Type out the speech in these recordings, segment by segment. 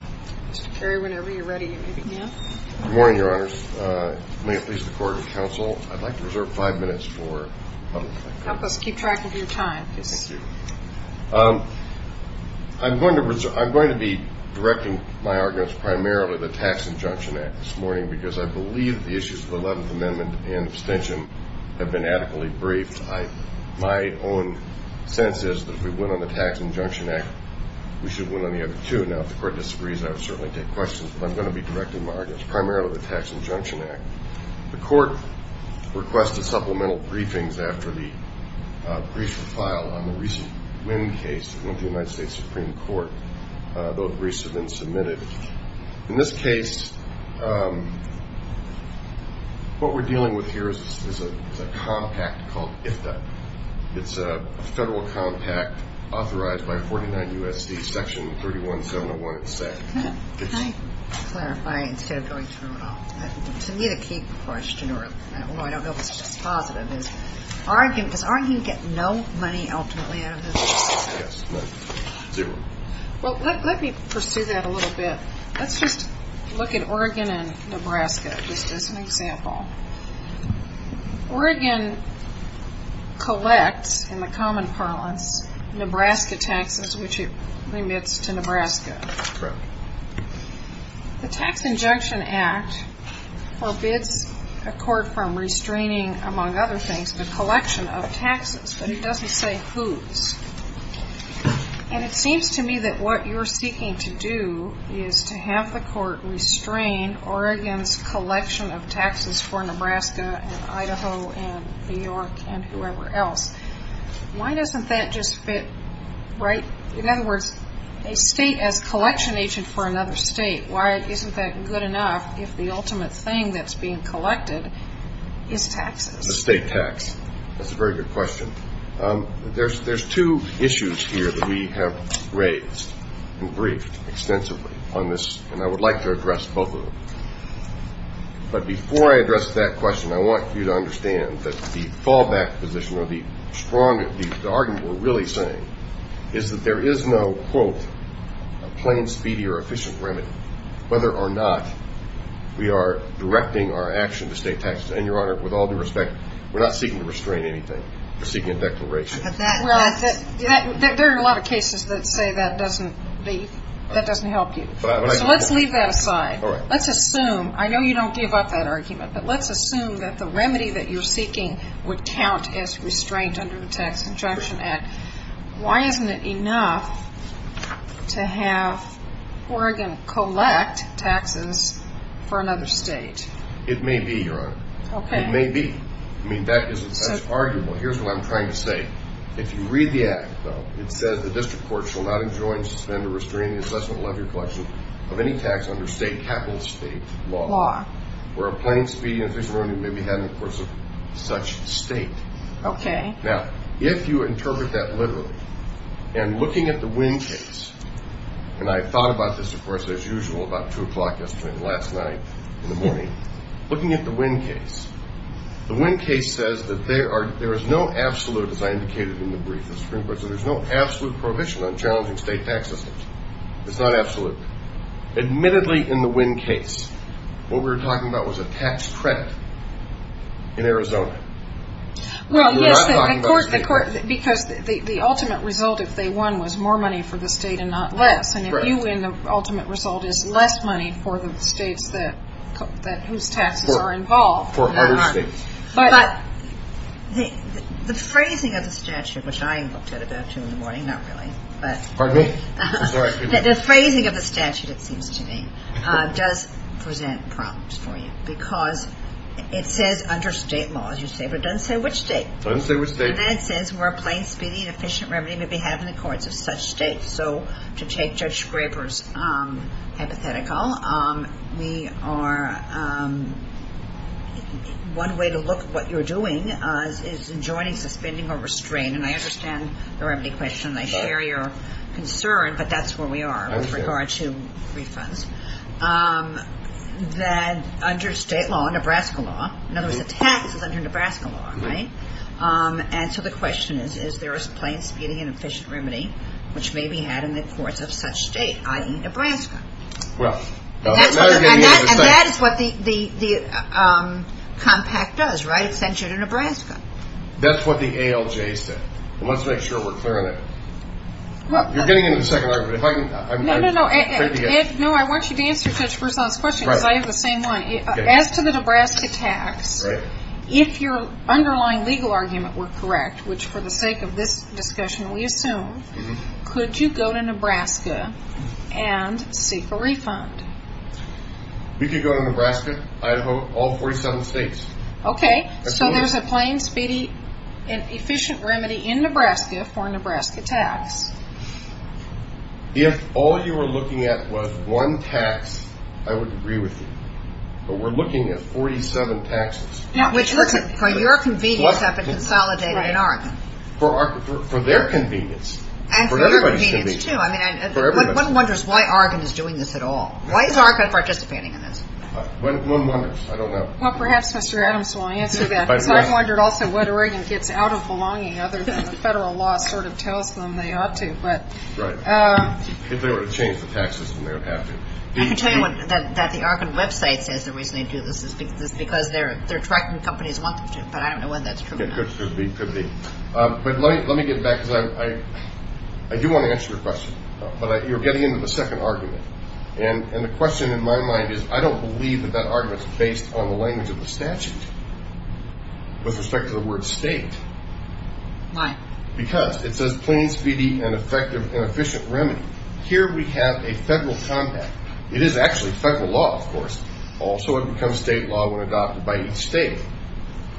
Good morning, Your Honors. May it please the Court and Counsel, I'd like to reserve five minutes for public comment. Help us keep track of your time. I'm going to be directing my arguments primarily to the Tax Injunction Act this morning, because I believe the issues of the Eleventh Amendment and abstention have been adequately briefed. My own sense is that if we win on the Tax Injunction Act, we should win on the other two. Now, if the Court disagrees, I would certainly take questions, but I'm going to be directing my arguments primarily to the Tax Injunction Act. The Court requested supplemental briefings after the brief filed on the recent Wynn case that went to the United States Supreme Court. Those briefs have been submitted. In this case, what we're dealing with here is a compact called IFTA. It's a federal compact authorized by 49 U.S.C. Section 31701. Can I clarify instead of going through it all? To me, the key question, although I don't know if it's just positive, is does arguing get no money ultimately out of this? Yes. Well, let me pursue that a little bit. Let's just look at Oregon and Nebraska just as an example. Oregon collects, in the common parlance, Nebraska taxes, which it remits to Nebraska. Correct. The Tax Injunction Act forbids a court from restraining, among other things, the collection of taxes, but it doesn't say whose. And it seems to me that what you're seeking to do is to have the court restrain Oregon's collection of taxes for Nebraska and Idaho and New York and whoever else. Why doesn't that just fit right? In other words, a state as a collection agent for another state, why isn't that good enough if the ultimate thing that's being collected is taxes? The state tax. That's a very good question. There's two issues here that we have raised and briefed extensively on this, and I would like to address both of them. But before I address that question, I want you to understand that the fallback position or the argument we're really saying is that there is no, quote, plain, speedy, or efficient remedy, whether or not we are directing our action to state taxes. And, Your Honor, with all due respect, we're not seeking to restrain anything. We're seeking a declaration. There are a lot of cases that say that doesn't help you. So let's leave that aside. Let's assume, I know you don't give up that argument, but let's assume that the remedy that you're seeking would count as restraint under the Tax Injunction Act. Why isn't it enough to have Oregon collect taxes for another state? It may be, Your Honor. Okay. It may be. I mean, that isn't such arguable. Here's what I'm trying to say. If you read the act, though, it says, the district court shall not enjoin, suspend, or restrain the assessment, levy, or collection of any tax under state capital estate law, where a plain, speedy, efficient remedy may be had in the course of such state. Okay. Now, if you interpret that literally, and looking at the Wynn case, and I thought about this, of course, as usual, about 2 o'clock yesterday and last night in the morning, looking at the Wynn case, the Wynn case says that there is no absolute, as I indicated in the brief, the Supreme Court said there's no absolute prohibition on challenging state tax systems. It's not absolute. Admittedly, in the Wynn case, what we were talking about was a tax credit in Arizona. Well, yes, because the ultimate result, if they won, was more money for the state and not less, and if you win, the ultimate result is less money for the states whose taxes are involved. For other states. But the phrasing of the statute, which I looked at about 2 in the morning, not really. Pardon me. The phrasing of the statute, it seems to me, does present problems for you because it says under state law, as you say, but it doesn't say which state. It doesn't say which state. And then it says where a plain, speedy, and efficient remedy may be had in the courts of such states. So to take Judge Scraper's hypothetical, we are one way to look at what you're doing is enjoining, suspending, or restraining, and I understand the remedy question, and I share your concern, but that's where we are with regard to refunds, that under state law, Nebraska law, in other words, the tax is under Nebraska law, right? And so the question is, is there a plain, speedy, and efficient remedy, which may be had in the courts of such states, i.e., Nebraska? And that is what the compact does, right? It sends you to Nebraska. That's what the ALJ said, and let's make sure we're clear on it. You're getting into the second argument. No, no, no. Ed, no, I want you to answer Judge Berzon's question because I have the same one. As to the Nebraska tax, if your underlying legal argument were correct, which for the sake of this discussion we assume, could you go to Nebraska and seek a refund? We could go to Nebraska, Idaho, all 47 states. Okay. So there's a plain, speedy, and efficient remedy in Nebraska for a Nebraska tax. If all you were looking at was one tax, I would agree with you. But we're looking at 47 taxes. Which, for your convenience, have been consolidated in Oregon. For their convenience. And for your convenience, too. I mean, one wonders why Oregon is doing this at all. Why is Oregon participating in this? One wonders. I don't know. Well, perhaps Mr. Adams will answer that. I've wondered also why Oregon gets out of belonging other than the federal law sort of tells them they ought to. Right. If they were to change the tax system, they would have to. I can tell you that the Oregon website says the reason they do this is because their tracking companies want them to. But I don't know whether that's true or not. It could be. It could be. But let me get back because I do want to answer your question. But you're getting into the second argument. And the question in my mind is I don't believe that that argument is based on the language of the statute with respect to the word state. Why? Because it says plain, speedy, and effective and efficient remedy. Here we have a federal compact. It is actually federal law, of course. Also, it becomes state law when adopted by each state.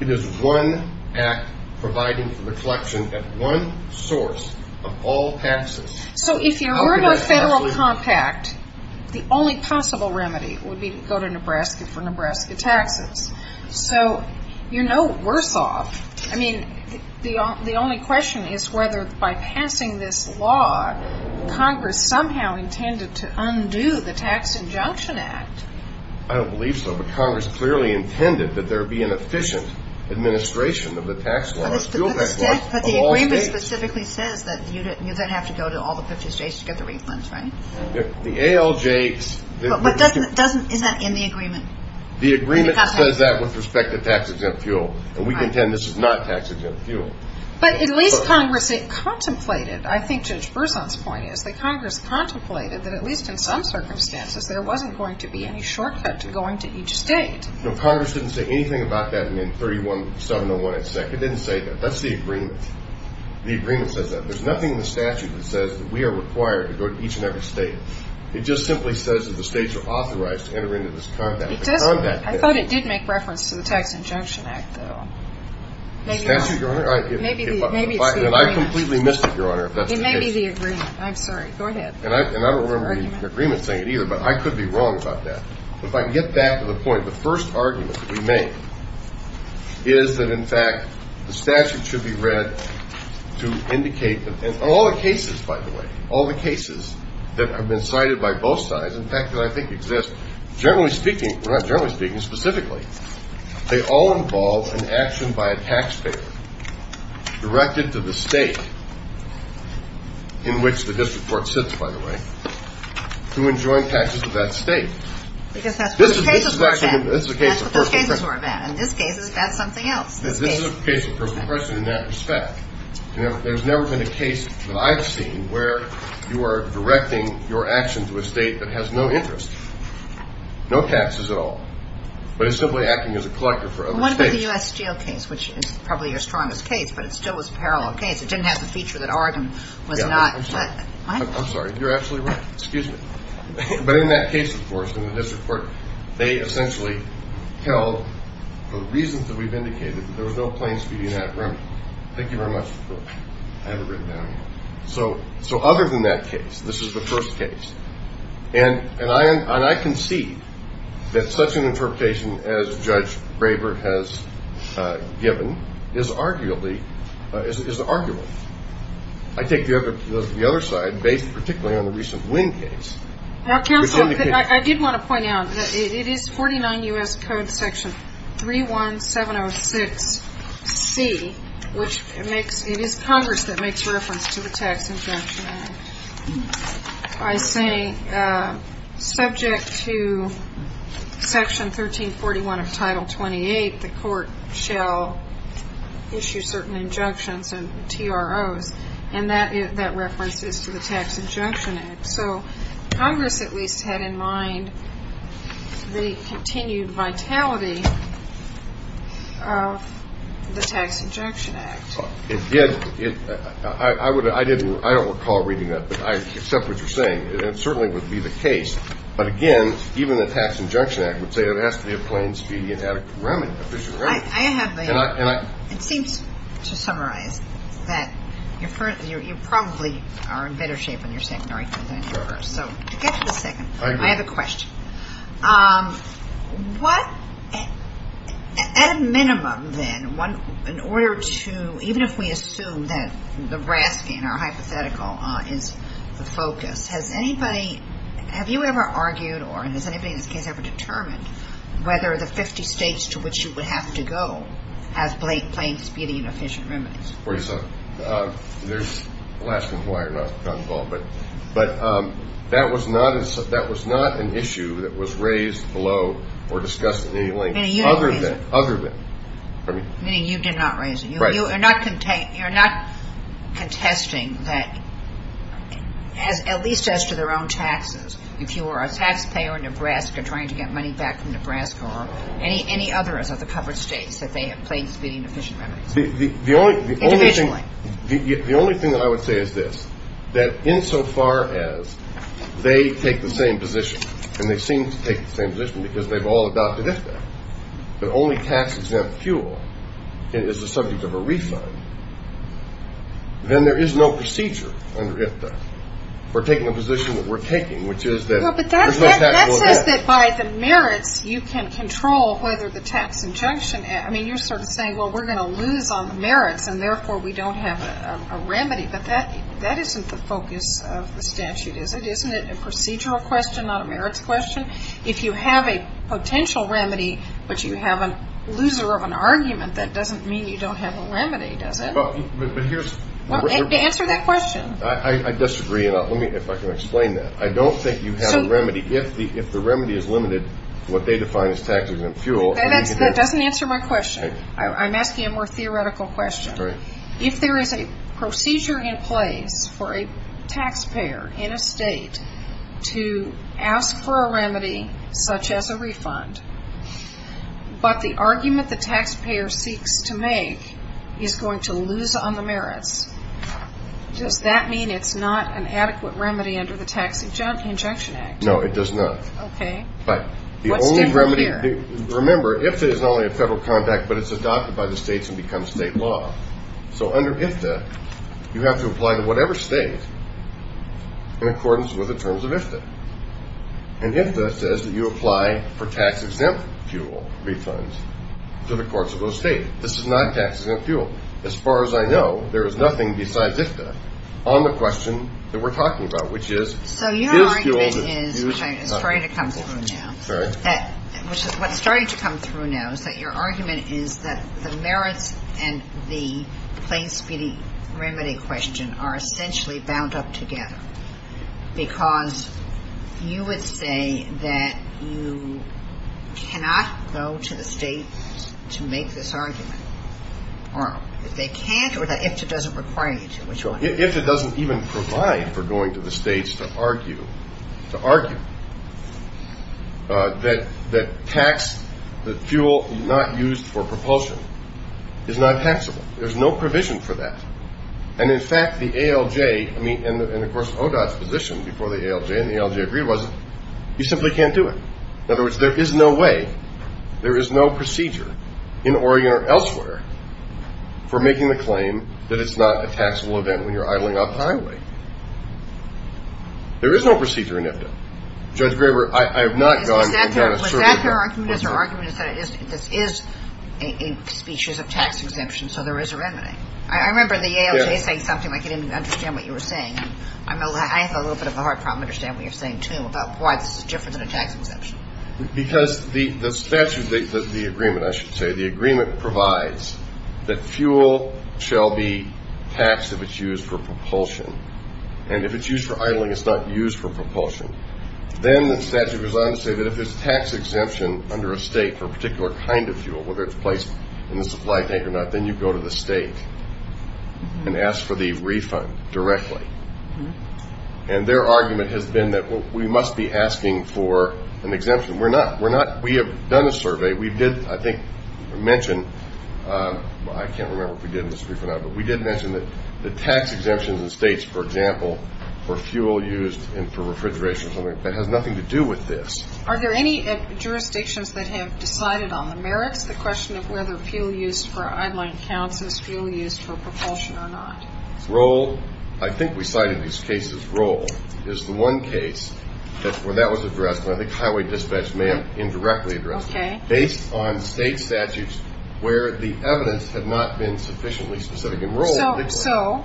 It is one act providing for the collection at one source of all taxes. So if you're in a federal compact, the only possible remedy would be to go to Nebraska for Nebraska taxes. So you're no worse off. I mean, the only question is whether by passing this law, Congress somehow intended to undo the Tax Injunction Act. I don't believe so. But Congress clearly intended that there be an efficient administration of the tax law. But the agreement specifically says that you then have to go to all the 50 states to get the refunds, right? The ALJs. But is that in the agreement? The agreement says that with respect to tax-exempt fuel. And we contend this is not tax-exempt fuel. But at least Congress contemplated, I think Judge Berzon's point is, that Congress contemplated that at least in some circumstances there wasn't going to be any shortcut to going to each state. No, Congress didn't say anything about that in 31701 etc. It didn't say that. That's the agreement. The agreement says that. There's nothing in the statute that says that we are required to go to each and every state. It just simply says that the states are authorized to enter into this compact. I thought it did make reference to the Tax Injunction Act, though. The statute, Your Honor? Maybe it's the agreement. And I completely missed it, Your Honor, if that's the case. It may be the agreement. I'm sorry. Go ahead. And I don't remember the agreement saying it either, but I could be wrong about that. If I can get back to the point, the first argument that we make is that, in fact, the statute should be read to indicate that all the cases, by the way, all the cases that have been cited by both sides, in fact, that I think exist, generally speaking we're not generally speaking, specifically. They all involve an action by a taxpayer directed to the state in which the district court sits, by the way, to enjoin taxes to that state. Because that's what the cases were about. That's what the cases were about. In this case, that's something else, this case. This is a case of personal impression in that respect. There's never been a case that I've seen where you are directing your action to a state that has no interest, no taxes at all, but is simply acting as a collector for other states. What about the U.S. Steel case, which is probably your strongest case, but it still was a parallel case. It didn't have the feature that Oregon was not. I'm sorry. You're absolutely right. Excuse me. But in that case, of course, in the district court, they essentially held, for the reasons that we've indicated, that there was no plane speeding in that room. Thank you very much. I have it written down. So other than that case, this is the first case. And I concede that such an interpretation as Judge Braver has given is arguably, is arguable. I take the other side, based particularly on the recent Wynn case. Now, counsel, I did want to point out that it is 49 U.S. Code section 31706C, which it is Congress that makes reference to the Tax Injunction Act. I say subject to section 1341 of Title 28, the court shall issue certain injunctions and TROs, and that reference is to the Tax Injunction Act. So Congress at least had in mind the continued vitality of the Tax Injunction Act. It did. I don't recall reading that, but I accept what you're saying. It certainly would be the case. But, again, even the Tax Injunction Act would say it has to be a plane speeding and a fishing run. It seems to summarize that you probably are in better shape in your secondary than in your first. What, at a minimum, then, in order to, even if we assume that the rasking or hypothetical is the focus, has anybody, have you ever argued or has anybody in this case ever determined whether the 50 states to which you would have to go has plane speeding and fishing remnants? The last one is why you're not involved. But that was not an issue that was raised below or discussed at any length other than. Meaning you did not raise it. Meaning you did not raise it. Right. You're not contesting that, at least as to their own taxes, if you are a taxpayer in Nebraska trying to get money back from Nebraska or any other of the covered states that they have plane speeding and fishing remnants. Individually. The only thing that I would say is this, that insofar as they take the same position, and they seem to take the same position because they've all adopted IFTA, but only tax-exempt fuel is the subject of a refund, then there is no procedure under IFTA. We're taking the position that we're taking, which is that there's no taxable effect. Well, but that says that by the merits you can control whether the tax injunction, I mean, you're sort of saying, well, we're going to lose on the merits, and therefore we don't have a remedy. But that isn't the focus of the statute, is it? Isn't it a procedural question, not a merits question? If you have a potential remedy, but you have a loser of an argument, that doesn't mean you don't have a remedy, does it? But here's the question. Answer that question. I disagree, and if I can explain that. I don't think you have a remedy. If the remedy is limited to what they define as tax-exempt fuel. That doesn't answer my question. I'm asking a more theoretical question. If there is a procedure in place for a taxpayer in a state to ask for a remedy such as a refund, but the argument the taxpayer seeks to make is going to lose on the merits, does that mean it's not an adequate remedy under the Tax Injunction Act? No, it does not. Okay. What's different here? Remember, IFTA is not only a federal contract, but it's adopted by the states and becomes state law. So under IFTA, you have to apply to whatever state in accordance with the terms of IFTA. And IFTA says that you apply for tax-exempt fuel refunds to the courts of those states. This is not tax-exempt fuel. As far as I know, there is nothing besides IFTA on the question that we're talking about, which is, So your argument is starting to come through now. Sorry. What's starting to come through now is that your argument is that the merits and the plain speedy remedy question are essentially bound up together, because you would say that you cannot go to the states to make this argument, or they can't, or that IFTA doesn't require you to. IFTA doesn't even provide for going to the states to argue that fuel not used for propulsion is not taxable. There's no provision for that. And, in fact, the ALJ and, of course, ODOT's position before the ALJ and the ALJ agreed was you simply can't do it. In other words, there is no way, there is no procedure in Oregon or elsewhere for making the claim that it's not a taxable event when you're idling off the highway. There is no procedure in IFTA. Judge Graber, I have not gone and done a survey. Was that their argument? Their argument is that this is a species of tax exemption, so there is a remedy. I remember the ALJ saying something, and I couldn't even understand what you were saying. I have a little bit of a hard problem understanding what you're saying, too, about why this is different than a tax exemption. Because the statute, the agreement, I should say, the agreement provides that fuel shall be taxed if it's used for propulsion. And if it's used for idling, it's not used for propulsion. Then the statute goes on to say that if it's a tax exemption under a state for a particular kind of fuel, whether it's placed in the supply tank or not, then you go to the state and ask for the refund directly. And their argument has been that we must be asking for an exemption. We're not. We have done a survey. We did, I think, mention, I can't remember if we did in this briefing or not, but we did mention that the tax exemptions in states, for example, for fuel used and for refrigeration or something, that has nothing to do with this. Are there any jurisdictions that have decided on the merits, the question of whether fuel used for idling counts as fuel used for propulsion or not? Role, I think we cited these cases. Role is the one case where that was addressed, and I think highway dispatch may have indirectly addressed it. Okay. Based on state statutes where the evidence had not been sufficiently specific in role. So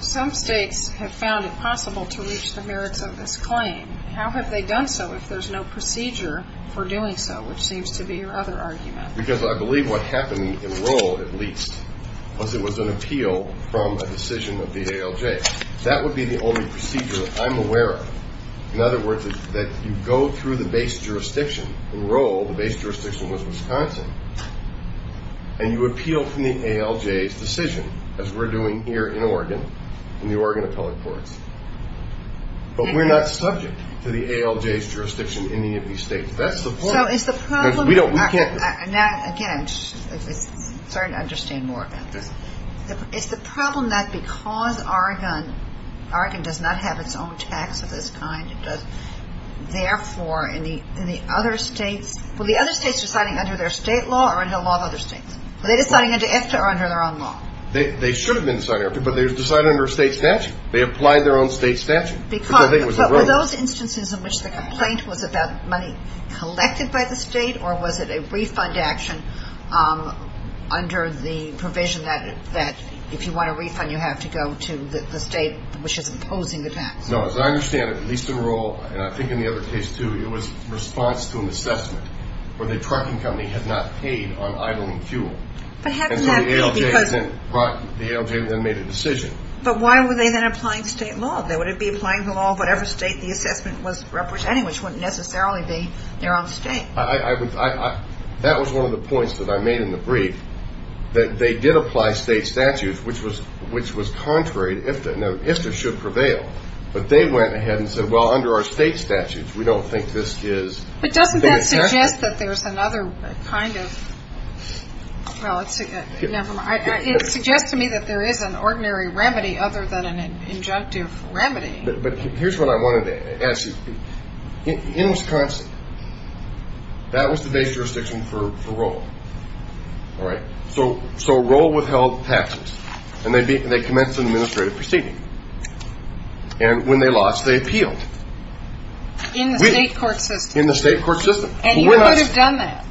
some states have found it possible to reach the merits of this claim. How have they done so if there's no procedure for doing so, which seems to be your other argument? Because I believe what happened in role, at least, was it was an appeal from a decision of the ALJ. That would be the only procedure I'm aware of. In other words, that you go through the base jurisdiction in role. The base jurisdiction was Wisconsin. And you appeal from the ALJ's decision, as we're doing here in Oregon, in the Oregon Appellate Courts. But we're not subject to the ALJ's jurisdiction in any of these states. That's the point. So is the problem. Because we can't. Now, again, I'm starting to understand more about this. It's the problem that because Oregon does not have its own tax of this kind, it does therefore in the other states. Were the other states deciding under their state law or under the law of other states? Were they deciding under EFTA or under their own law? They should have been deciding under EFTA, but they decided under state statute. They applied their own state statute. But were those instances in which the complaint was about money collected by the state or was it a refund action under the provision that if you want a refund, you have to go to the state which is imposing the tax? No. As I understand it, the lease-to-enroll, and I think in the other case, too, it was response to an assessment where the trucking company had not paid on idling fuel. And so the ALJ then made a decision. But why were they then applying state law? Would it be applying the law of whatever state the assessment was representing, which wouldn't necessarily be their own state? That was one of the points that I made in the brief, that they did apply state statutes, which was contrary to EFTA. Now, EFTA should prevail. But they went ahead and said, well, under our state statutes, we don't think this is... But doesn't that suggest that there's another kind of... Well, never mind. It suggests to me that there is an ordinary remedy other than an injunctive remedy. But here's what I wanted to ask you. In Wisconsin, that was the base jurisdiction for roll. All right? So roll withheld taxes. And they commenced an administrative proceeding. And when they lost, they appealed. In the state court system. In the state court system. And you could have done that.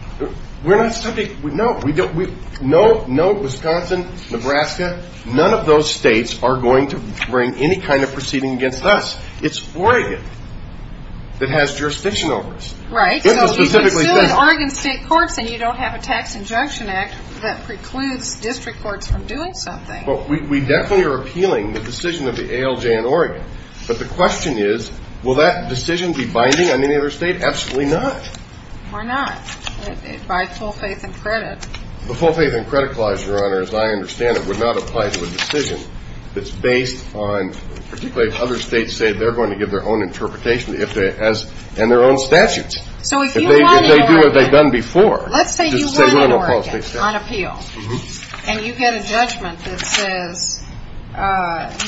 We're not subject... No, Wisconsin, Nebraska, none of those states are going to bring any kind of proceeding against us. It's Oregon that has jurisdiction over us. Right. So if you sue in Oregon state courts and you don't have a tax injunction act, that precludes district courts from doing something. Well, we definitely are appealing the decision of the ALJ in Oregon. But the question is, will that decision be binding on any other state? Absolutely not. Why not? It bides full faith and credit. The full faith and credit clause, Your Honor, as I understand it, would not apply to a decision that's based on, particularly if other states say they're going to give their own interpretation and their own statutes. So if you want to... If they do what they've done before... Let's say you win in Oregon on appeal. And you get a judgment that says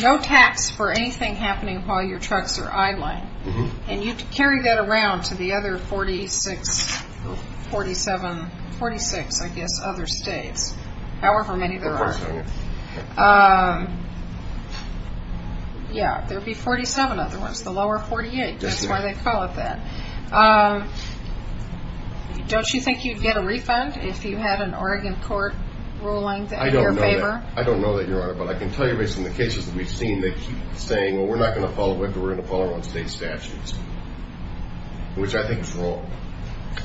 no tax for anything happening while your trucks are idling. And you carry that around to the other 46, 47, 46, I guess, other states, however many there are. Yeah, there would be 47 other ones. The lower 48, that's why they call it that. Don't you think you'd get a refund if you had an Oregon court ruling in your favor? I don't know that, Your Honor, but I can tell you based on the cases that we've seen that keep saying, well, we're not going to follow WICCA, we're going to follow our own state statutes, which I think is wrong.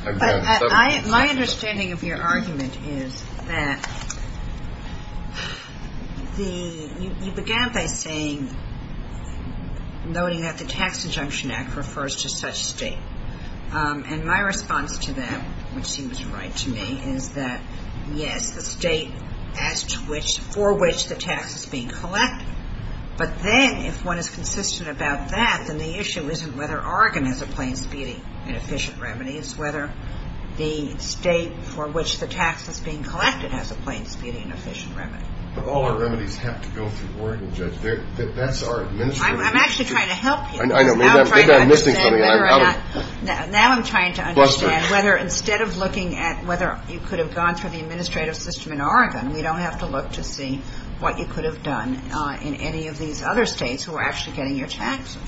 My understanding of your argument is that you began by saying, noting that the Tax Adjunction Act refers to such a state. And my response to that, which seems right to me, is that, yes, the state for which the tax is being collected. But then if one is consistent about that, then the issue isn't whether Oregon has a plain speeding and efficient remedy, it's whether the state for which the tax is being collected has a plain speeding and efficient remedy. But all our remedies have to go through Oregon, Judge. That's our administrative system. I'm actually trying to help you. I know. Maybe I'm missing something. Now I'm trying to understand whether instead of looking at whether you could have gone through the administrative system in Oregon, we don't have to look to see what you could have done in any of these other states who are actually getting your taxes.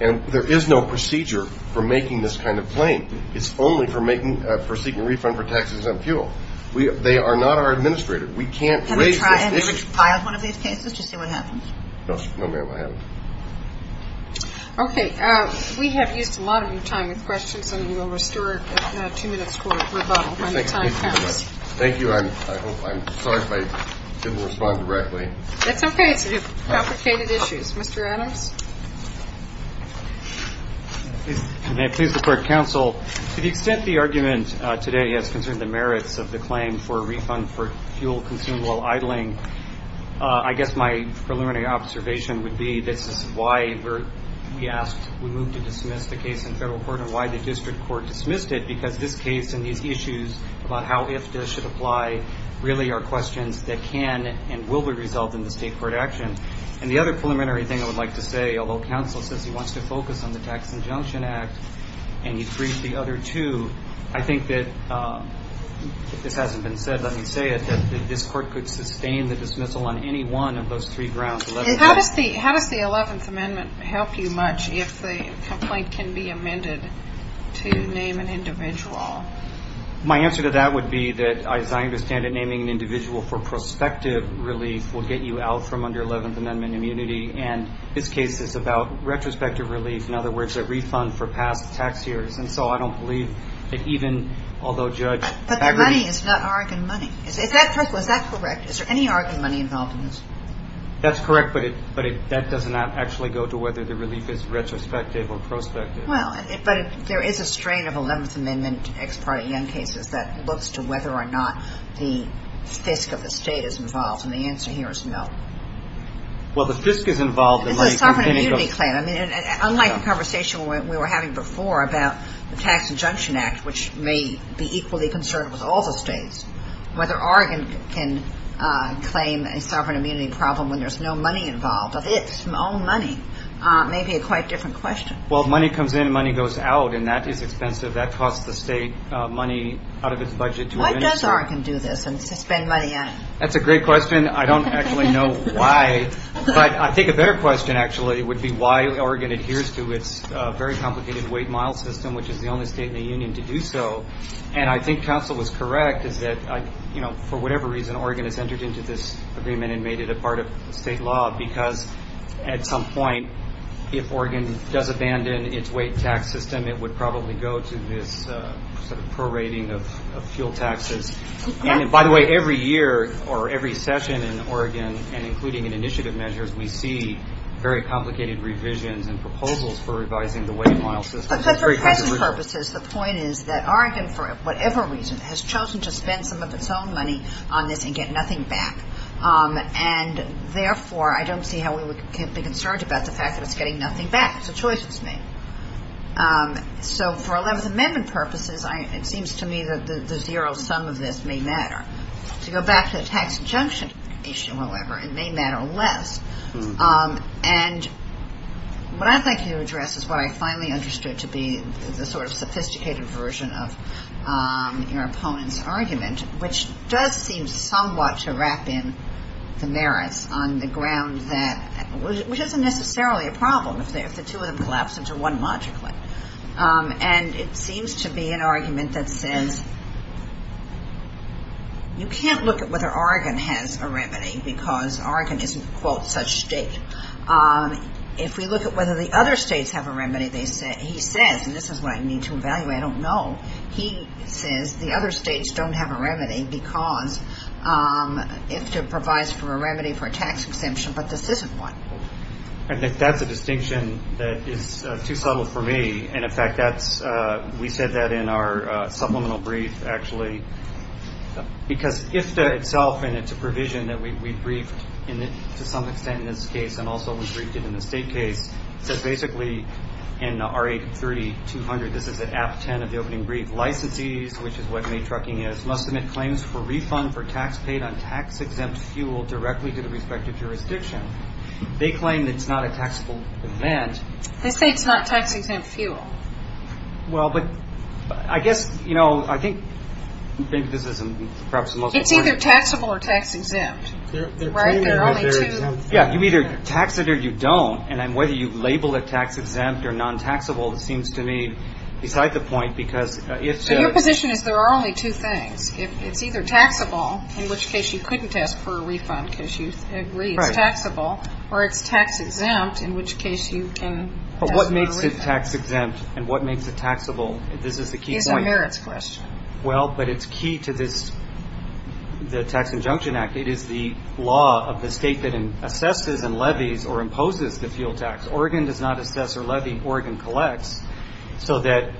And there is no procedure for making this kind of claim. It's only for seeking a refund for taxes on fuel. They are not our administrator. We can't raise this issue. Have you compiled one of these cases to see what happens? No, ma'am, I haven't. Okay. We have used a lot of your time with questions, and we will restore two minutes for rebuttal. Thank you. I'm sorry if I didn't respond directly. That's okay. It's a complicated issue. Mr. Adams. May I please report, counsel, to the extent the argument today has concerned the merits of the claim for a refund for fuel consumed while idling, I guess my preliminary observation would be this is why we asked, we moved to dismiss the case in federal court, and why the district court dismissed it, because this case and these issues about how IFTA should apply really are questions that can and will be resolved in the state court action. And the other preliminary thing I would like to say, although counsel says he wants to focus on the Tax Injunction Act and he's briefed the other two, I think that if this hasn't been said, let me say it, that this court could sustain the dismissal on any one of those three grounds. How does the Eleventh Amendment help you much if the complaint can be amended to name an individual? My answer to that would be that, as I understand it, naming an individual for prospective relief will get you out from under Eleventh Amendment immunity, and this case is about retrospective relief, in other words, a refund for past tax years. And so I don't believe that even although Judge Fagerty But the money is not Oregon money. Is that correct? Is there any Oregon money involved in this? That's correct, but that does not actually go to whether the relief is retrospective or prospective. Well, but there is a strain of Eleventh Amendment ex parte young cases that looks to whether or not the FISC of the state is involved, and the answer here is no. Well, the FISC is involved in like any other This is a sovereign immunity claim. I mean, unlike the conversation we were having before about the Tax Injunction Act, which may be equally concerned with all the states, whether Oregon can claim a sovereign immunity problem when there's no money involved, if it's its own money, may be a quite different question. Well, money comes in, money goes out, and that is expensive. That costs the state money out of its budget to Why does Oregon do this and spend money on it? That's a great question. I don't actually know why, but I think a better question actually would be why Oregon adheres to its very complicated weight-mile system, which is the only state in the union to do so, and I think counsel was correct is that, you know, for whatever reason, Oregon has entered into this agreement and made it a part of state law, because at some point, if Oregon does abandon its weight-tax system, it would probably go to this sort of prorating of fuel taxes. And by the way, every year or every session in Oregon, and including in initiative measures, we see very complicated revisions and proposals for revising the weight-mile system. But for present purposes, the point is that Oregon, for whatever reason, has chosen to spend some of its own money on this and get nothing back, and therefore I don't see how we would be concerned about the fact that it's getting nothing back. It's a choice it's made. So for 11th Amendment purposes, it seems to me that the zero sum of this may matter. To go back to the tax injunction issue, however, it may matter less. And what I'd like to address is what I finally understood to be the sort of sophisticated version of your opponent's argument, which does seem somewhat to wrap in the merits on the ground that, which isn't necessarily a problem if the two of them collapse into one logically. And it seems to be an argument that says you can't look at whether Oregon has a remedy, because Oregon isn't, quote, such a state. If we look at whether the other states have a remedy, he says, and this is what I need to evaluate, I don't know. He says the other states don't have a remedy because IFTA provides for a remedy for a tax exemption, but this isn't one. And that's a distinction that is too subtle for me. And, in fact, we said that in our supplemental brief, actually. Because IFTA itself, and it's a provision that we briefed to some extent in this case, and also we briefed it in the state case, says basically in R8-3200, this is at Act 10 of the opening brief, licensees, which is what made trucking is, must submit claims for refund for tax paid on tax-exempt fuel directly to the respective jurisdiction. They claim it's not a taxable event. They say it's not tax-exempt fuel. Well, but I guess, you know, I think this is perhaps the most important. It's either taxable or tax-exempt. Right? There are only two. Yeah. You either tax it or you don't. And whether you label it tax-exempt or non-taxable seems to me beside the point, because IFTA. Your position is there are only two things. It's either taxable, in which case you couldn't ask for a refund because you agree it's taxable, or it's tax-exempt, in which case you can ask for a refund. But what makes it tax-exempt and what makes it taxable? This is the key point. It's a merits question. Well, but it's key to this, the Tax Injunction Act. It is the law of the state that assesses and levies or imposes the fuel tax. Oregon does not assess or levy. So that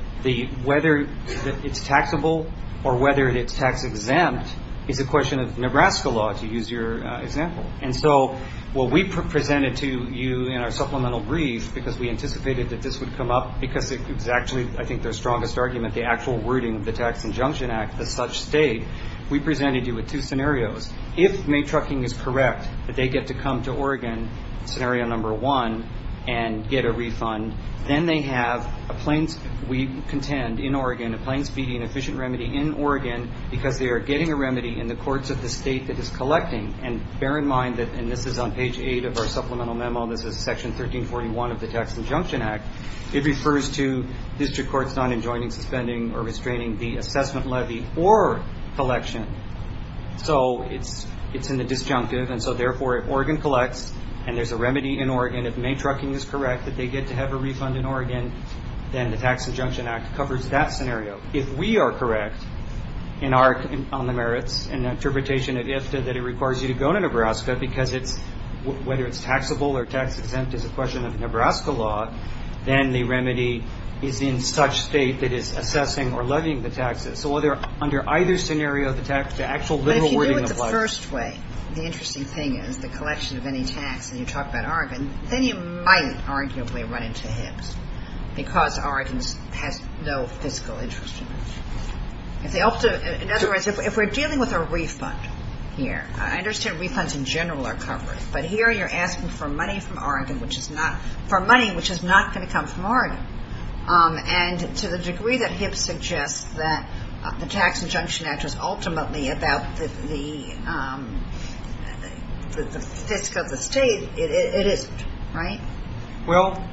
whether it's taxable or whether it's tax-exempt is a question of Nebraska law, to use your example. And so what we presented to you in our supplemental brief, because we anticipated that this would come up, because it's actually, I think, their strongest argument, the actual wording of the Tax Injunction Act, the such state, we presented you with two scenarios. If May Trucking is correct that they get to come to Oregon, scenario number one, and get a refund, then they have, we contend, in Oregon, a plain, speedy, and efficient remedy in Oregon because they are getting a remedy in the courts of the state that is collecting. And bear in mind that, and this is on page 8 of our supplemental memo, this is Section 1341 of the Tax Injunction Act, it refers to district courts not enjoining, suspending, or restraining the assessment levy or collection. So it's in the disjunctive, and so therefore, if Oregon collects and there's a remedy in Oregon, if May Trucking is correct that they get to have a refund in Oregon, then the Tax Injunction Act covers that scenario. If we are correct on the merits and the interpretation of IFTA that it requires you to go to Nebraska because whether it's taxable or tax-exempt is a question of Nebraska law, then the remedy is in such state that is assessing or levying the taxes. So under either scenario, the actual wording applies. But if you do it the first way, the interesting thing is the collection of any tax, and you talk about Oregon, then you might arguably run into Hibbs because Oregon has no fiscal interest in it. In other words, if we're dealing with a refund here, I understand refunds in general are covered, but here you're asking for money from Oregon which is not, for money which is not going to come from Oregon. And to the degree that Hibbs suggests that the Tax Injunction Act is ultimately about the fisc of the state, it isn't, right? Well,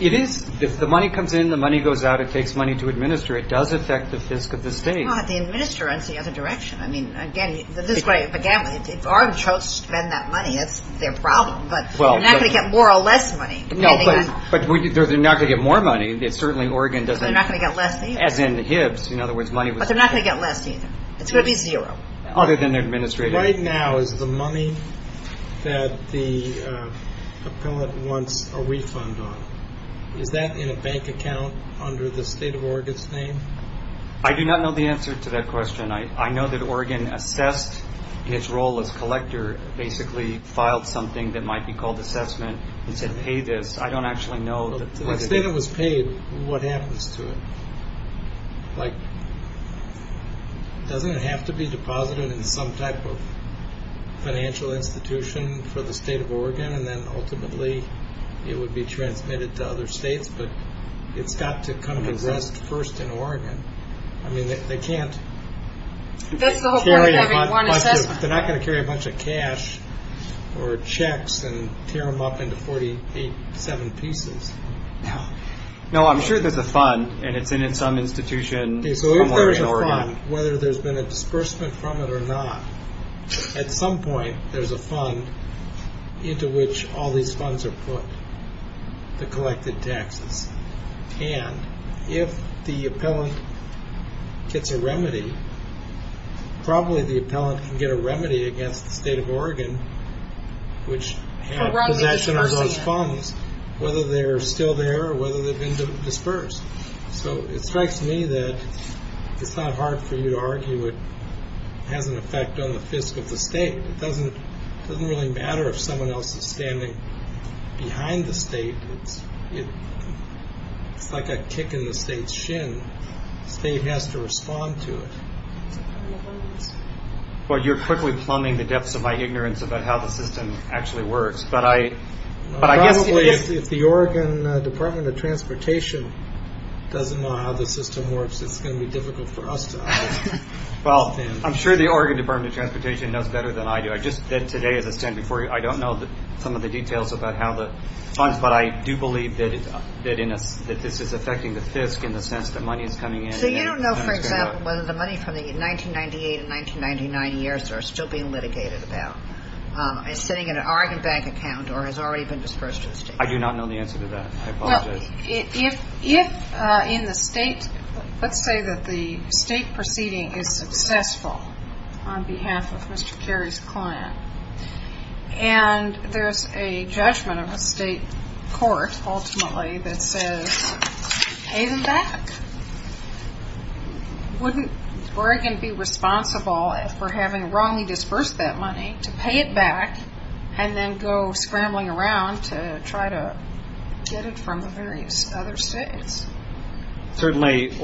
it is. If the money comes in, the money goes out. It takes money to administer. It does affect the fisc of the state. Well, if they administer it, it's the other direction. I mean, again, if Oregon chose to spend that money, that's their problem, but they're not going to get more or less money. No, but they're not going to get more money. They're not going to get less either. As in Hibbs. But they're not going to get less either. It's going to be zero. Right now is the money that the appellate wants a refund on. Is that in a bank account under the state of Oregon's name? I do not know the answer to that question. I know that Oregon assessed in its role as collector, basically filed something that might be called assessment and said, pay this. I don't actually know. The state that was paid, what happens to it? Like, doesn't it have to be deposited in some type of financial institution for the state of Oregon, and then ultimately it would be transmitted to other states? But it's got to come to rest first in Oregon. I mean, they can't carry a bunch of cash. Or checks and tear them up into 47 pieces. No, I'm sure there's a fund, and it's in some institution somewhere in Oregon. So if there is a fund, whether there's been a disbursement from it or not, at some point there's a fund into which all these funds are put, the collected taxes. And if the appellant gets a remedy, probably the appellant can get a remedy against the state of Oregon, which had possession of those funds, whether they're still there or whether they've been dispersed. So it strikes me that it's not hard for you to argue it has an effect on the fiscal of the state. It doesn't really matter if someone else is standing behind the state. It's like a kick in the state's shin. State has to respond to it. Well, you're quickly plumbing the depths of my ignorance about how the system actually works. But I guess if the Oregon Department of Transportation doesn't know how the system works, it's going to be difficult for us to understand. Well, I'm sure the Oregon Department of Transportation knows better than I do. I just said today as I stand before you, I don't know some of the details about how the funds, but I do believe that this is affecting the fiscal in the sense that money is coming in. So you don't know, for example, whether the money from the 1998 and 1999 years that are still being litigated about is sitting in an Oregon bank account or has already been dispersed to the state? I do not know the answer to that. I apologize. Well, if in the state, let's say that the state proceeding is successful on behalf of Mr. Cary's client and there's a judgment of a state court ultimately that says, pay them back, wouldn't Oregon be responsible if we're having wrongly dispersed that money to pay it back and then go scrambling around to try to get it from the various other states? Certainly,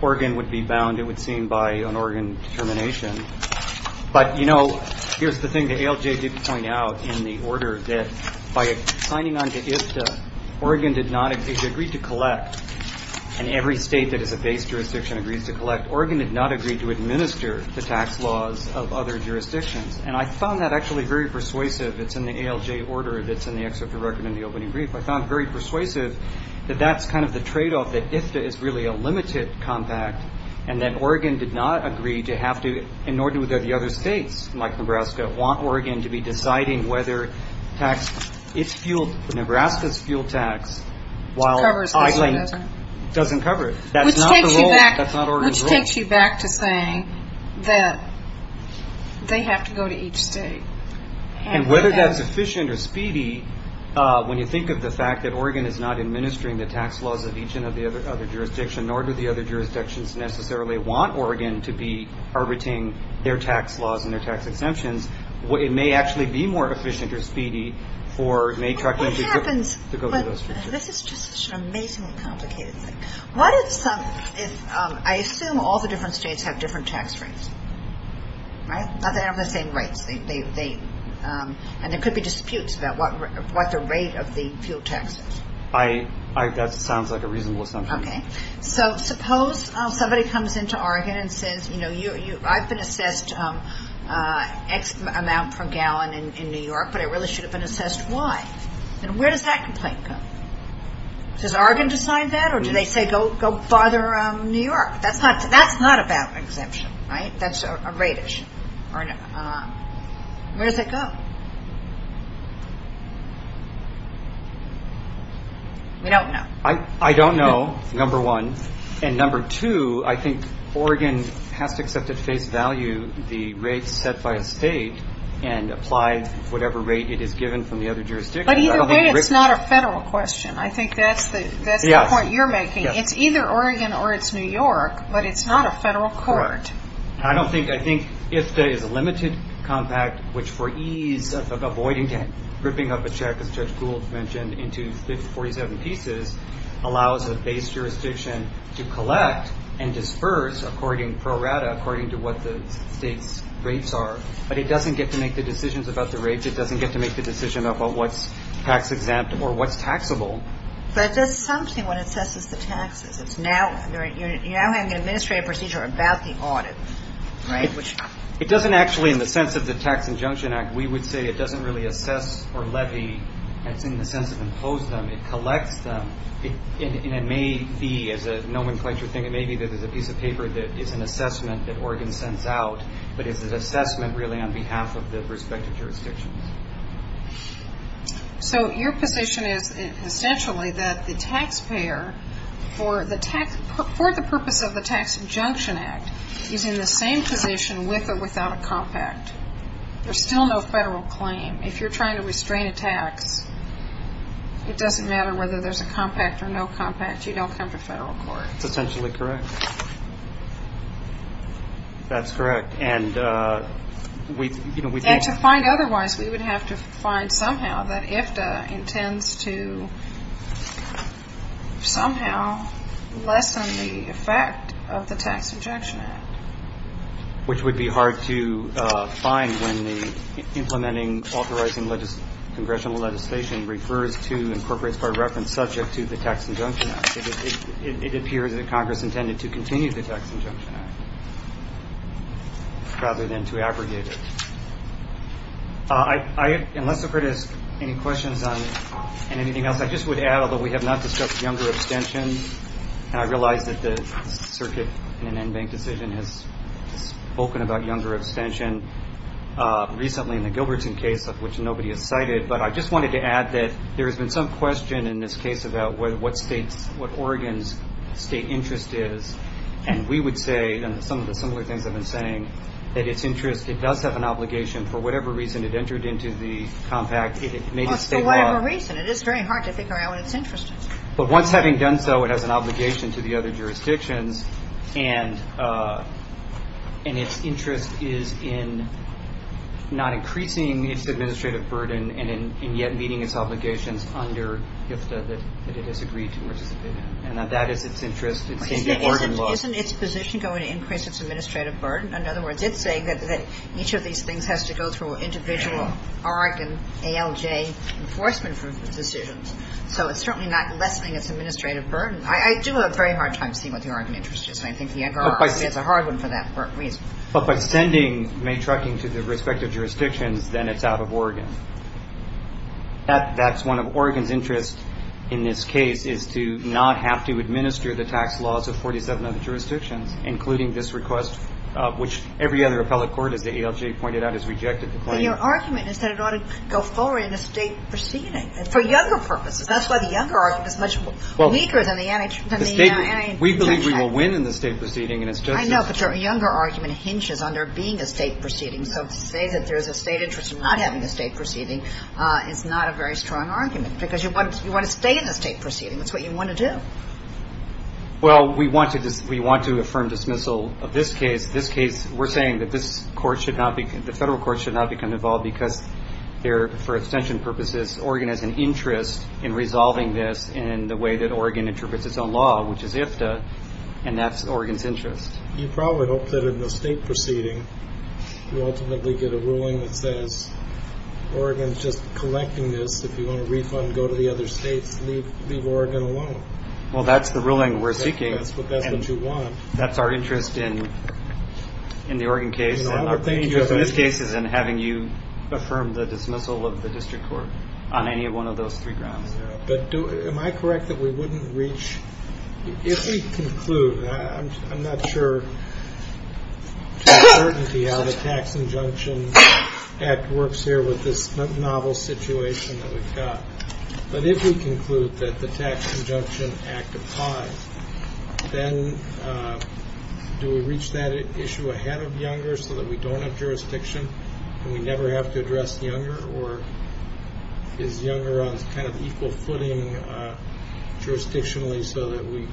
Oregon would be bound, it would seem, by an Oregon determination. But, you know, here's the thing the ALJ did point out in the order that by signing on to IFTA, Oregon did not agree to collect, and every state that is a base jurisdiction agrees to collect, Oregon did not agree to administer the tax laws of other jurisdictions. And I found that actually very persuasive. It's in the ALJ order that's in the excerpt of the record in the opening brief. I found it very persuasive that that's kind of the tradeoff, that IFTA is really a limited compact and that Oregon did not agree to have to, and nor do the other states like Nebraska, want Oregon to be deciding whether Nebraska's fuel tax while I-link doesn't cover it. Which takes you back to saying that they have to go to each state. And whether that's efficient or speedy, when you think of the fact that Oregon is not administering the tax laws of each and every other jurisdiction, nor do the other jurisdictions necessarily want Oregon to be arbitrating their tax laws and their tax exemptions, it may actually be more efficient or speedy for Maytruck to go through those. This is just such an amazingly complicated thing. I assume all the different states have different tax rates, right? Not that they have the same rates. And there could be disputes about what the rate of the fuel tax is. That sounds like a reasonable assumption. Okay. So suppose somebody comes into Oregon and says, I've been assessed X amount per gallon in New York, but I really should have been assessed Y. Then where does that complaint go? Does Oregon decide that or do they say go bother New York? That's not about exemption, right? That's a rate issue. Where does it go? We don't know. I don't know, number one. And number two, I think Oregon has to accept at face value the rates set by a state and apply whatever rate it is given from the other jurisdictions. But either way, it's not a federal question. I think that's the point you're making. It's either Oregon or it's New York, but it's not a federal court. I think IFTA is a limited compact, which for ease of avoiding ripping up a check, as Judge Gould mentioned, into 47 pieces allows a base jurisdiction to collect and disperse pro rata according to what the state's rates are. But it doesn't get to make the decisions about the rates. It doesn't get to make the decision about what's tax exempt or what's taxable. But there's something when it says it's the taxes. You're now having an administrative procedure about the audit. It doesn't actually, in the sense of the Tax Injunction Act, we would say it doesn't really assess or levy. It's in the sense of impose them. It collects them, and it may be, as a nomenclature thing, it may be that there's a piece of paper that is an assessment that Oregon sends out, but it's an assessment really on behalf of the respective jurisdictions. So your position is essentially that the taxpayer, for the purpose of the Tax Injunction Act, is in the same position with or without a compact. There's still no federal claim. If you're trying to restrain a tax, it doesn't matter whether there's a compact or no compact. You don't come to federal court. That's essentially correct. That's correct. And to find otherwise, we would have to find somehow that IFTA intends to somehow lessen the effect of the Tax Injunction Act. Which would be hard to find when the implementing authorizing congressional legislation refers to incorporates by reference subject to the Tax Injunction Act. It appears that Congress intended to continue the Tax Injunction Act rather than to aggregate it. Unless I've heard any questions on anything else, I just would add, although we have not discussed younger abstentions, and I realize that the circuit in an NBANC decision has spoken about younger abstention recently in the Gilberton case, of which nobody has cited, but I just wanted to add that there has been some question in this case about what Oregon's state interest is. And we would say, and some of the similar things I've been saying, that its interest, it does have an obligation, for whatever reason it entered into the compact. For whatever reason. It is very hard to figure out what its interest is. But once having done so, it has an obligation to the other jurisdictions, and its interest is in not increasing its administrative burden and yet meeting its obligations under HFDA that it has agreed to participate in. And that is its interest. Isn't its position going to increase its administrative burden? In other words, it's saying that each of these things has to go through individual Oregon ALJ enforcement decisions. So it's certainly not lessening its administrative burden. I do have a very hard time seeing what the Oregon interest is, and I think the younger argument is a hard one for that reason. But by sending Maytrucking to the respective jurisdictions, then it's out of Oregon. That's one of Oregon's interests in this case, is to not have to administer the tax laws of 47 other jurisdictions, including this request, which every other appellate court, as the ALJ pointed out, has rejected the claim. But your argument is that it ought to go forward in a state proceeding. For younger purposes. That's why the younger argument is much weaker than the anti-intentional. We believe we will win in the state proceeding. I know, but your younger argument hinges on there being a state proceeding. So to say that there's a state interest in not having a state proceeding is not a very strong argument, because you want to stay in the state proceeding. That's what you want to do. Well, we want to affirm dismissal of this case. We're saying that the federal courts should not become involved because they're, for extension purposes, Oregon has an interest in resolving this in the way that Oregon interprets its own law, which is IFTA, and that's Oregon's interest. You probably hope that in the state proceeding, you ultimately get a ruling that says Oregon's just collecting this. If you want a refund, go to the other states. Leave Oregon alone. Well, that's the ruling we're seeking. That's what you want. That's our interest in the Oregon case. Our interest in this case is in having you affirm the dismissal of the district court on any one of those three grounds. But am I correct that we wouldn't reach, if we conclude, I'm not sure to certainty how the Tax Injunction Act works here with this novel situation that we've got, but if we conclude that the Tax Injunction Act applies, then do we reach that issue ahead of Younger so that we don't have jurisdiction and we never have to address Younger, or is Younger on kind of equal footing jurisdictionally so that we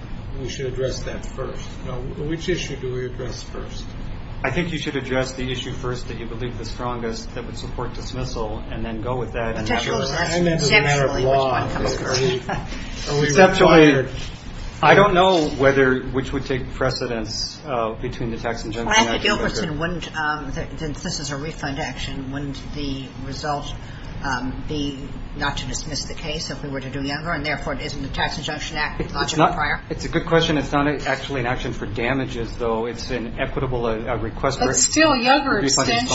should address that first? Which issue do we address first? I think you should address the issue first that you believe the strongest that would support dismissal and then go with that. Potentially. I don't know which would take precedence between the Tax Injunction Act and Younger. This is a refund action. Wouldn't the result be not to dismiss the case if we were to do Younger and, therefore, isn't the Tax Injunction Act a logical prior? It's a good question. It's not actually an action for damages, though. It's an equitable request. But still, Younger abstention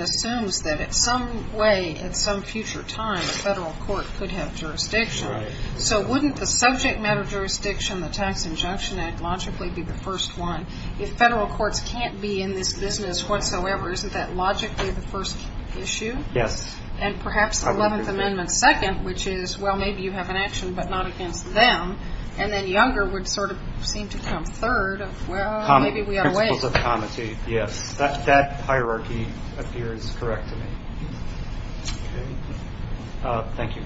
assumes that in some way, at some future time, the federal court could have jurisdiction. So wouldn't the subject matter jurisdiction, the Tax Injunction Act, logically be the first one? If federal courts can't be in this business whatsoever, isn't that logically the first issue? Yes. And perhaps the Eleventh Amendment second, which is, well, maybe you have an action but not against them, and then Younger would sort of seem to come third of, well, maybe we have a way. Principles of comity, yes. That hierarchy appears correct to me. Okay. Thank you.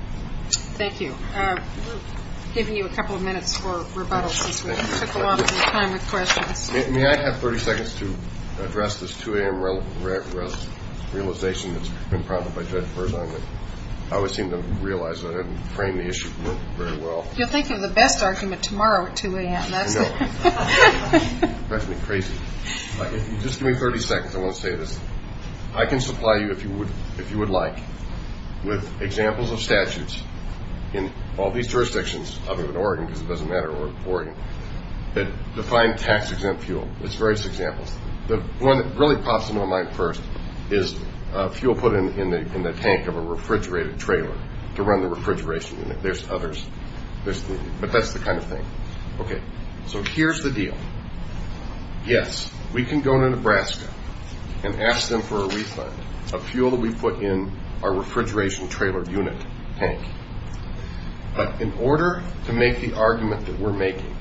Thank you. We've given you a couple of minutes for rebuttal since we took a lot of time with questions. May I have 30 seconds to address this 2 a.m. realization that's been prompted by Judge Berzahn? I always seem to realize that I didn't frame the issue very well. You'll think of the best argument tomorrow at 2 a.m. No. That's going to be crazy. Just give me 30 seconds. I want to say this. I can supply you, if you would like, with examples of statutes in all these jurisdictions, other than Oregon, because it doesn't matter, Oregon, that define tax-exempt fuel. There's various examples. The one that really pops into my mind first is fuel put in the tank of a refrigerated trailer to run the refrigeration unit. There's others. But that's the kind of thing. Okay. So here's the deal. Yes, we can go to Nebraska and ask them for a refund of fuel that we put in our refrigeration trailer unit tank. But in order to make the argument that we're making,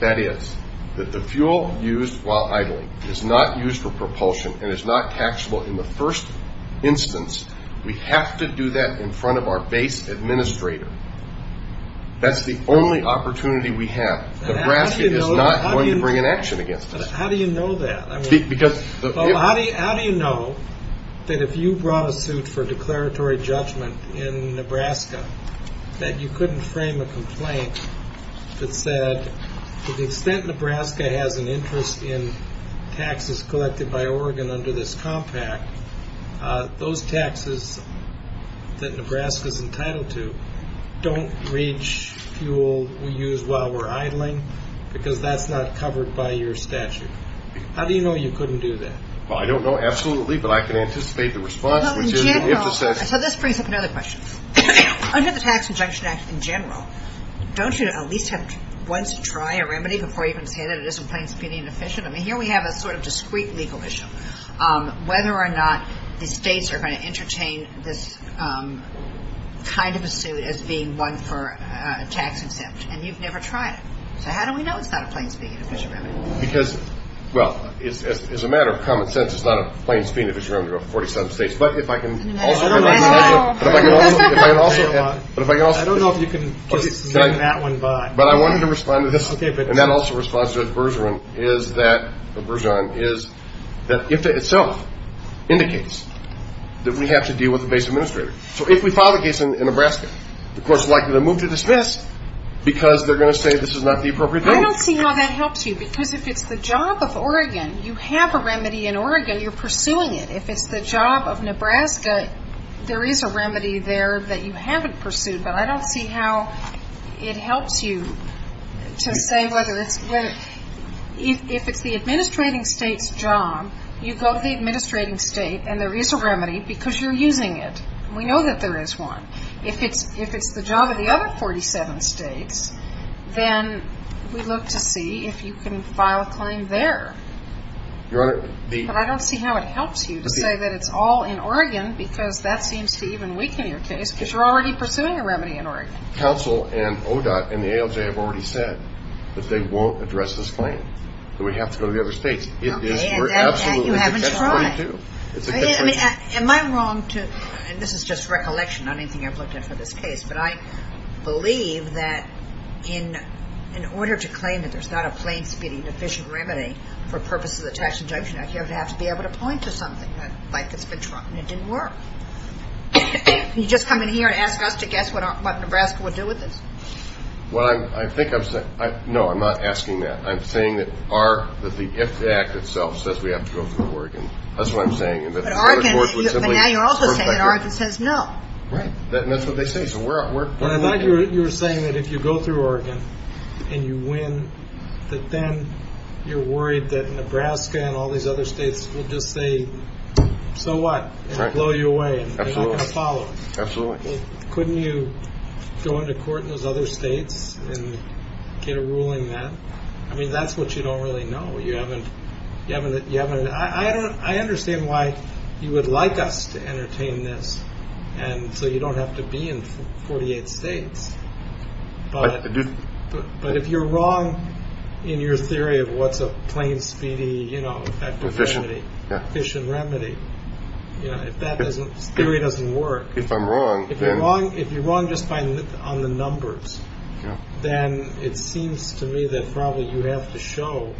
that is, that the fuel used while idling is not used for propulsion and is not taxable in the first instance, we have to do that in front of our base administrator. That's the only opportunity we have. Nebraska is not going to bring an action against us. How do you know that? How do you know that if you brought a suit for declaratory judgment in Nebraska that you couldn't frame a complaint that said, to the extent Nebraska has an interest in taxes collected by Oregon under this compact, those taxes that Nebraska is entitled to don't reach fuel we use while we're idling because that's not covered by your statute? How do you know you couldn't do that? Well, I don't know absolutely, but I can anticipate the response, which is if it says so. So this brings up another question. Under the Tax Injunction Act in general, don't you at least have to once try a remedy before you can say that it isn't plain speaking efficient? I mean, here we have a sort of discrete legal issue, whether or not the states are going to entertain this kind of a suit as being one for tax exempt. And you've never tried it. So how do we know it's not a plain speaking efficient remedy? Because, well, it's a matter of common sense. It's not a plain speaking efficient remedy for 47 states. But if I can also add to that. I don't know if you can just name that one, but. But I wanted to respond to this, and that also responds to the Bergeron, is that IFTA itself indicates that we have to deal with the base administrator. So if we file the case in Nebraska, the court is likely to move to dismiss because they're going to say this is not the appropriate date. I don't see how that helps you. Because if it's the job of Oregon, you have a remedy in Oregon, you're pursuing it. If it's the job of Nebraska, there is a remedy there that you haven't pursued. But I don't see how it helps you to say whether it's the administrating state's job, you go to the administrating state and there is a remedy because you're using it. We know that there is one. If it's the job of the other 47 states, then we look to see if you can file a claim there. Your Honor. But I don't see how it helps you to say that it's all in Oregon because that seems to even weaken your case because you're already pursuing a remedy in Oregon. Counsel and ODOT and the ALJ have already said that they won't address this claim, that we have to go to the other states. Okay. And you haven't tried. Am I wrong to, and this is just recollection on anything I've looked at for this case, but I believe that in order to claim that there's not a plain speeding efficient remedy for purposes of the tax injunction act, you would have to be able to point to something like it's been trumped and it didn't work. Can you just come in here and ask us to guess what Nebraska would do with this? Well, I think I'm saying, no, I'm not asking that. I'm saying that the IFTA Act itself says we have to go through Oregon. That's what I'm saying. But now you're also saying that Oregon says no. Right. That's what they say. I thought you were saying that if you go through Oregon and you win, that then you're worried that Nebraska and all these other states will just say, so what, and blow you away and they're not going to follow. Absolutely. Couldn't you go into court in those other states and get a ruling that? I mean, that's what you don't really know. You haven't. You haven't. You haven't. I don't. I understand why you would like us to entertain this. And so you don't have to be in 48 states. But if you're wrong in your theory of what's a plain speedy, you know, efficient remedy, if that theory doesn't work, if I'm wrong, if you're wrong just on the numbers, then it seems to me that probably you have to show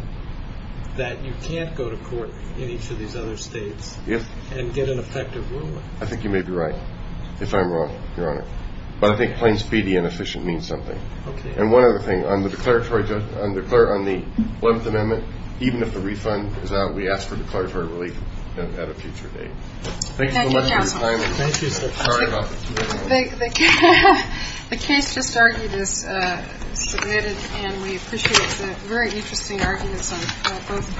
that you can't go to court in each of these other states and get an effective ruling. I think you may be right. If I'm wrong, Your Honor. But I think plain speedy and efficient means something. And one other thing, on the 11th Amendment, even if the refund is out, we ask for declaratory relief at a future date. Thank you so much for your time. Thank you. Sorry about that. The case just argued is submitted, and we appreciate the very interesting arguments on both parts.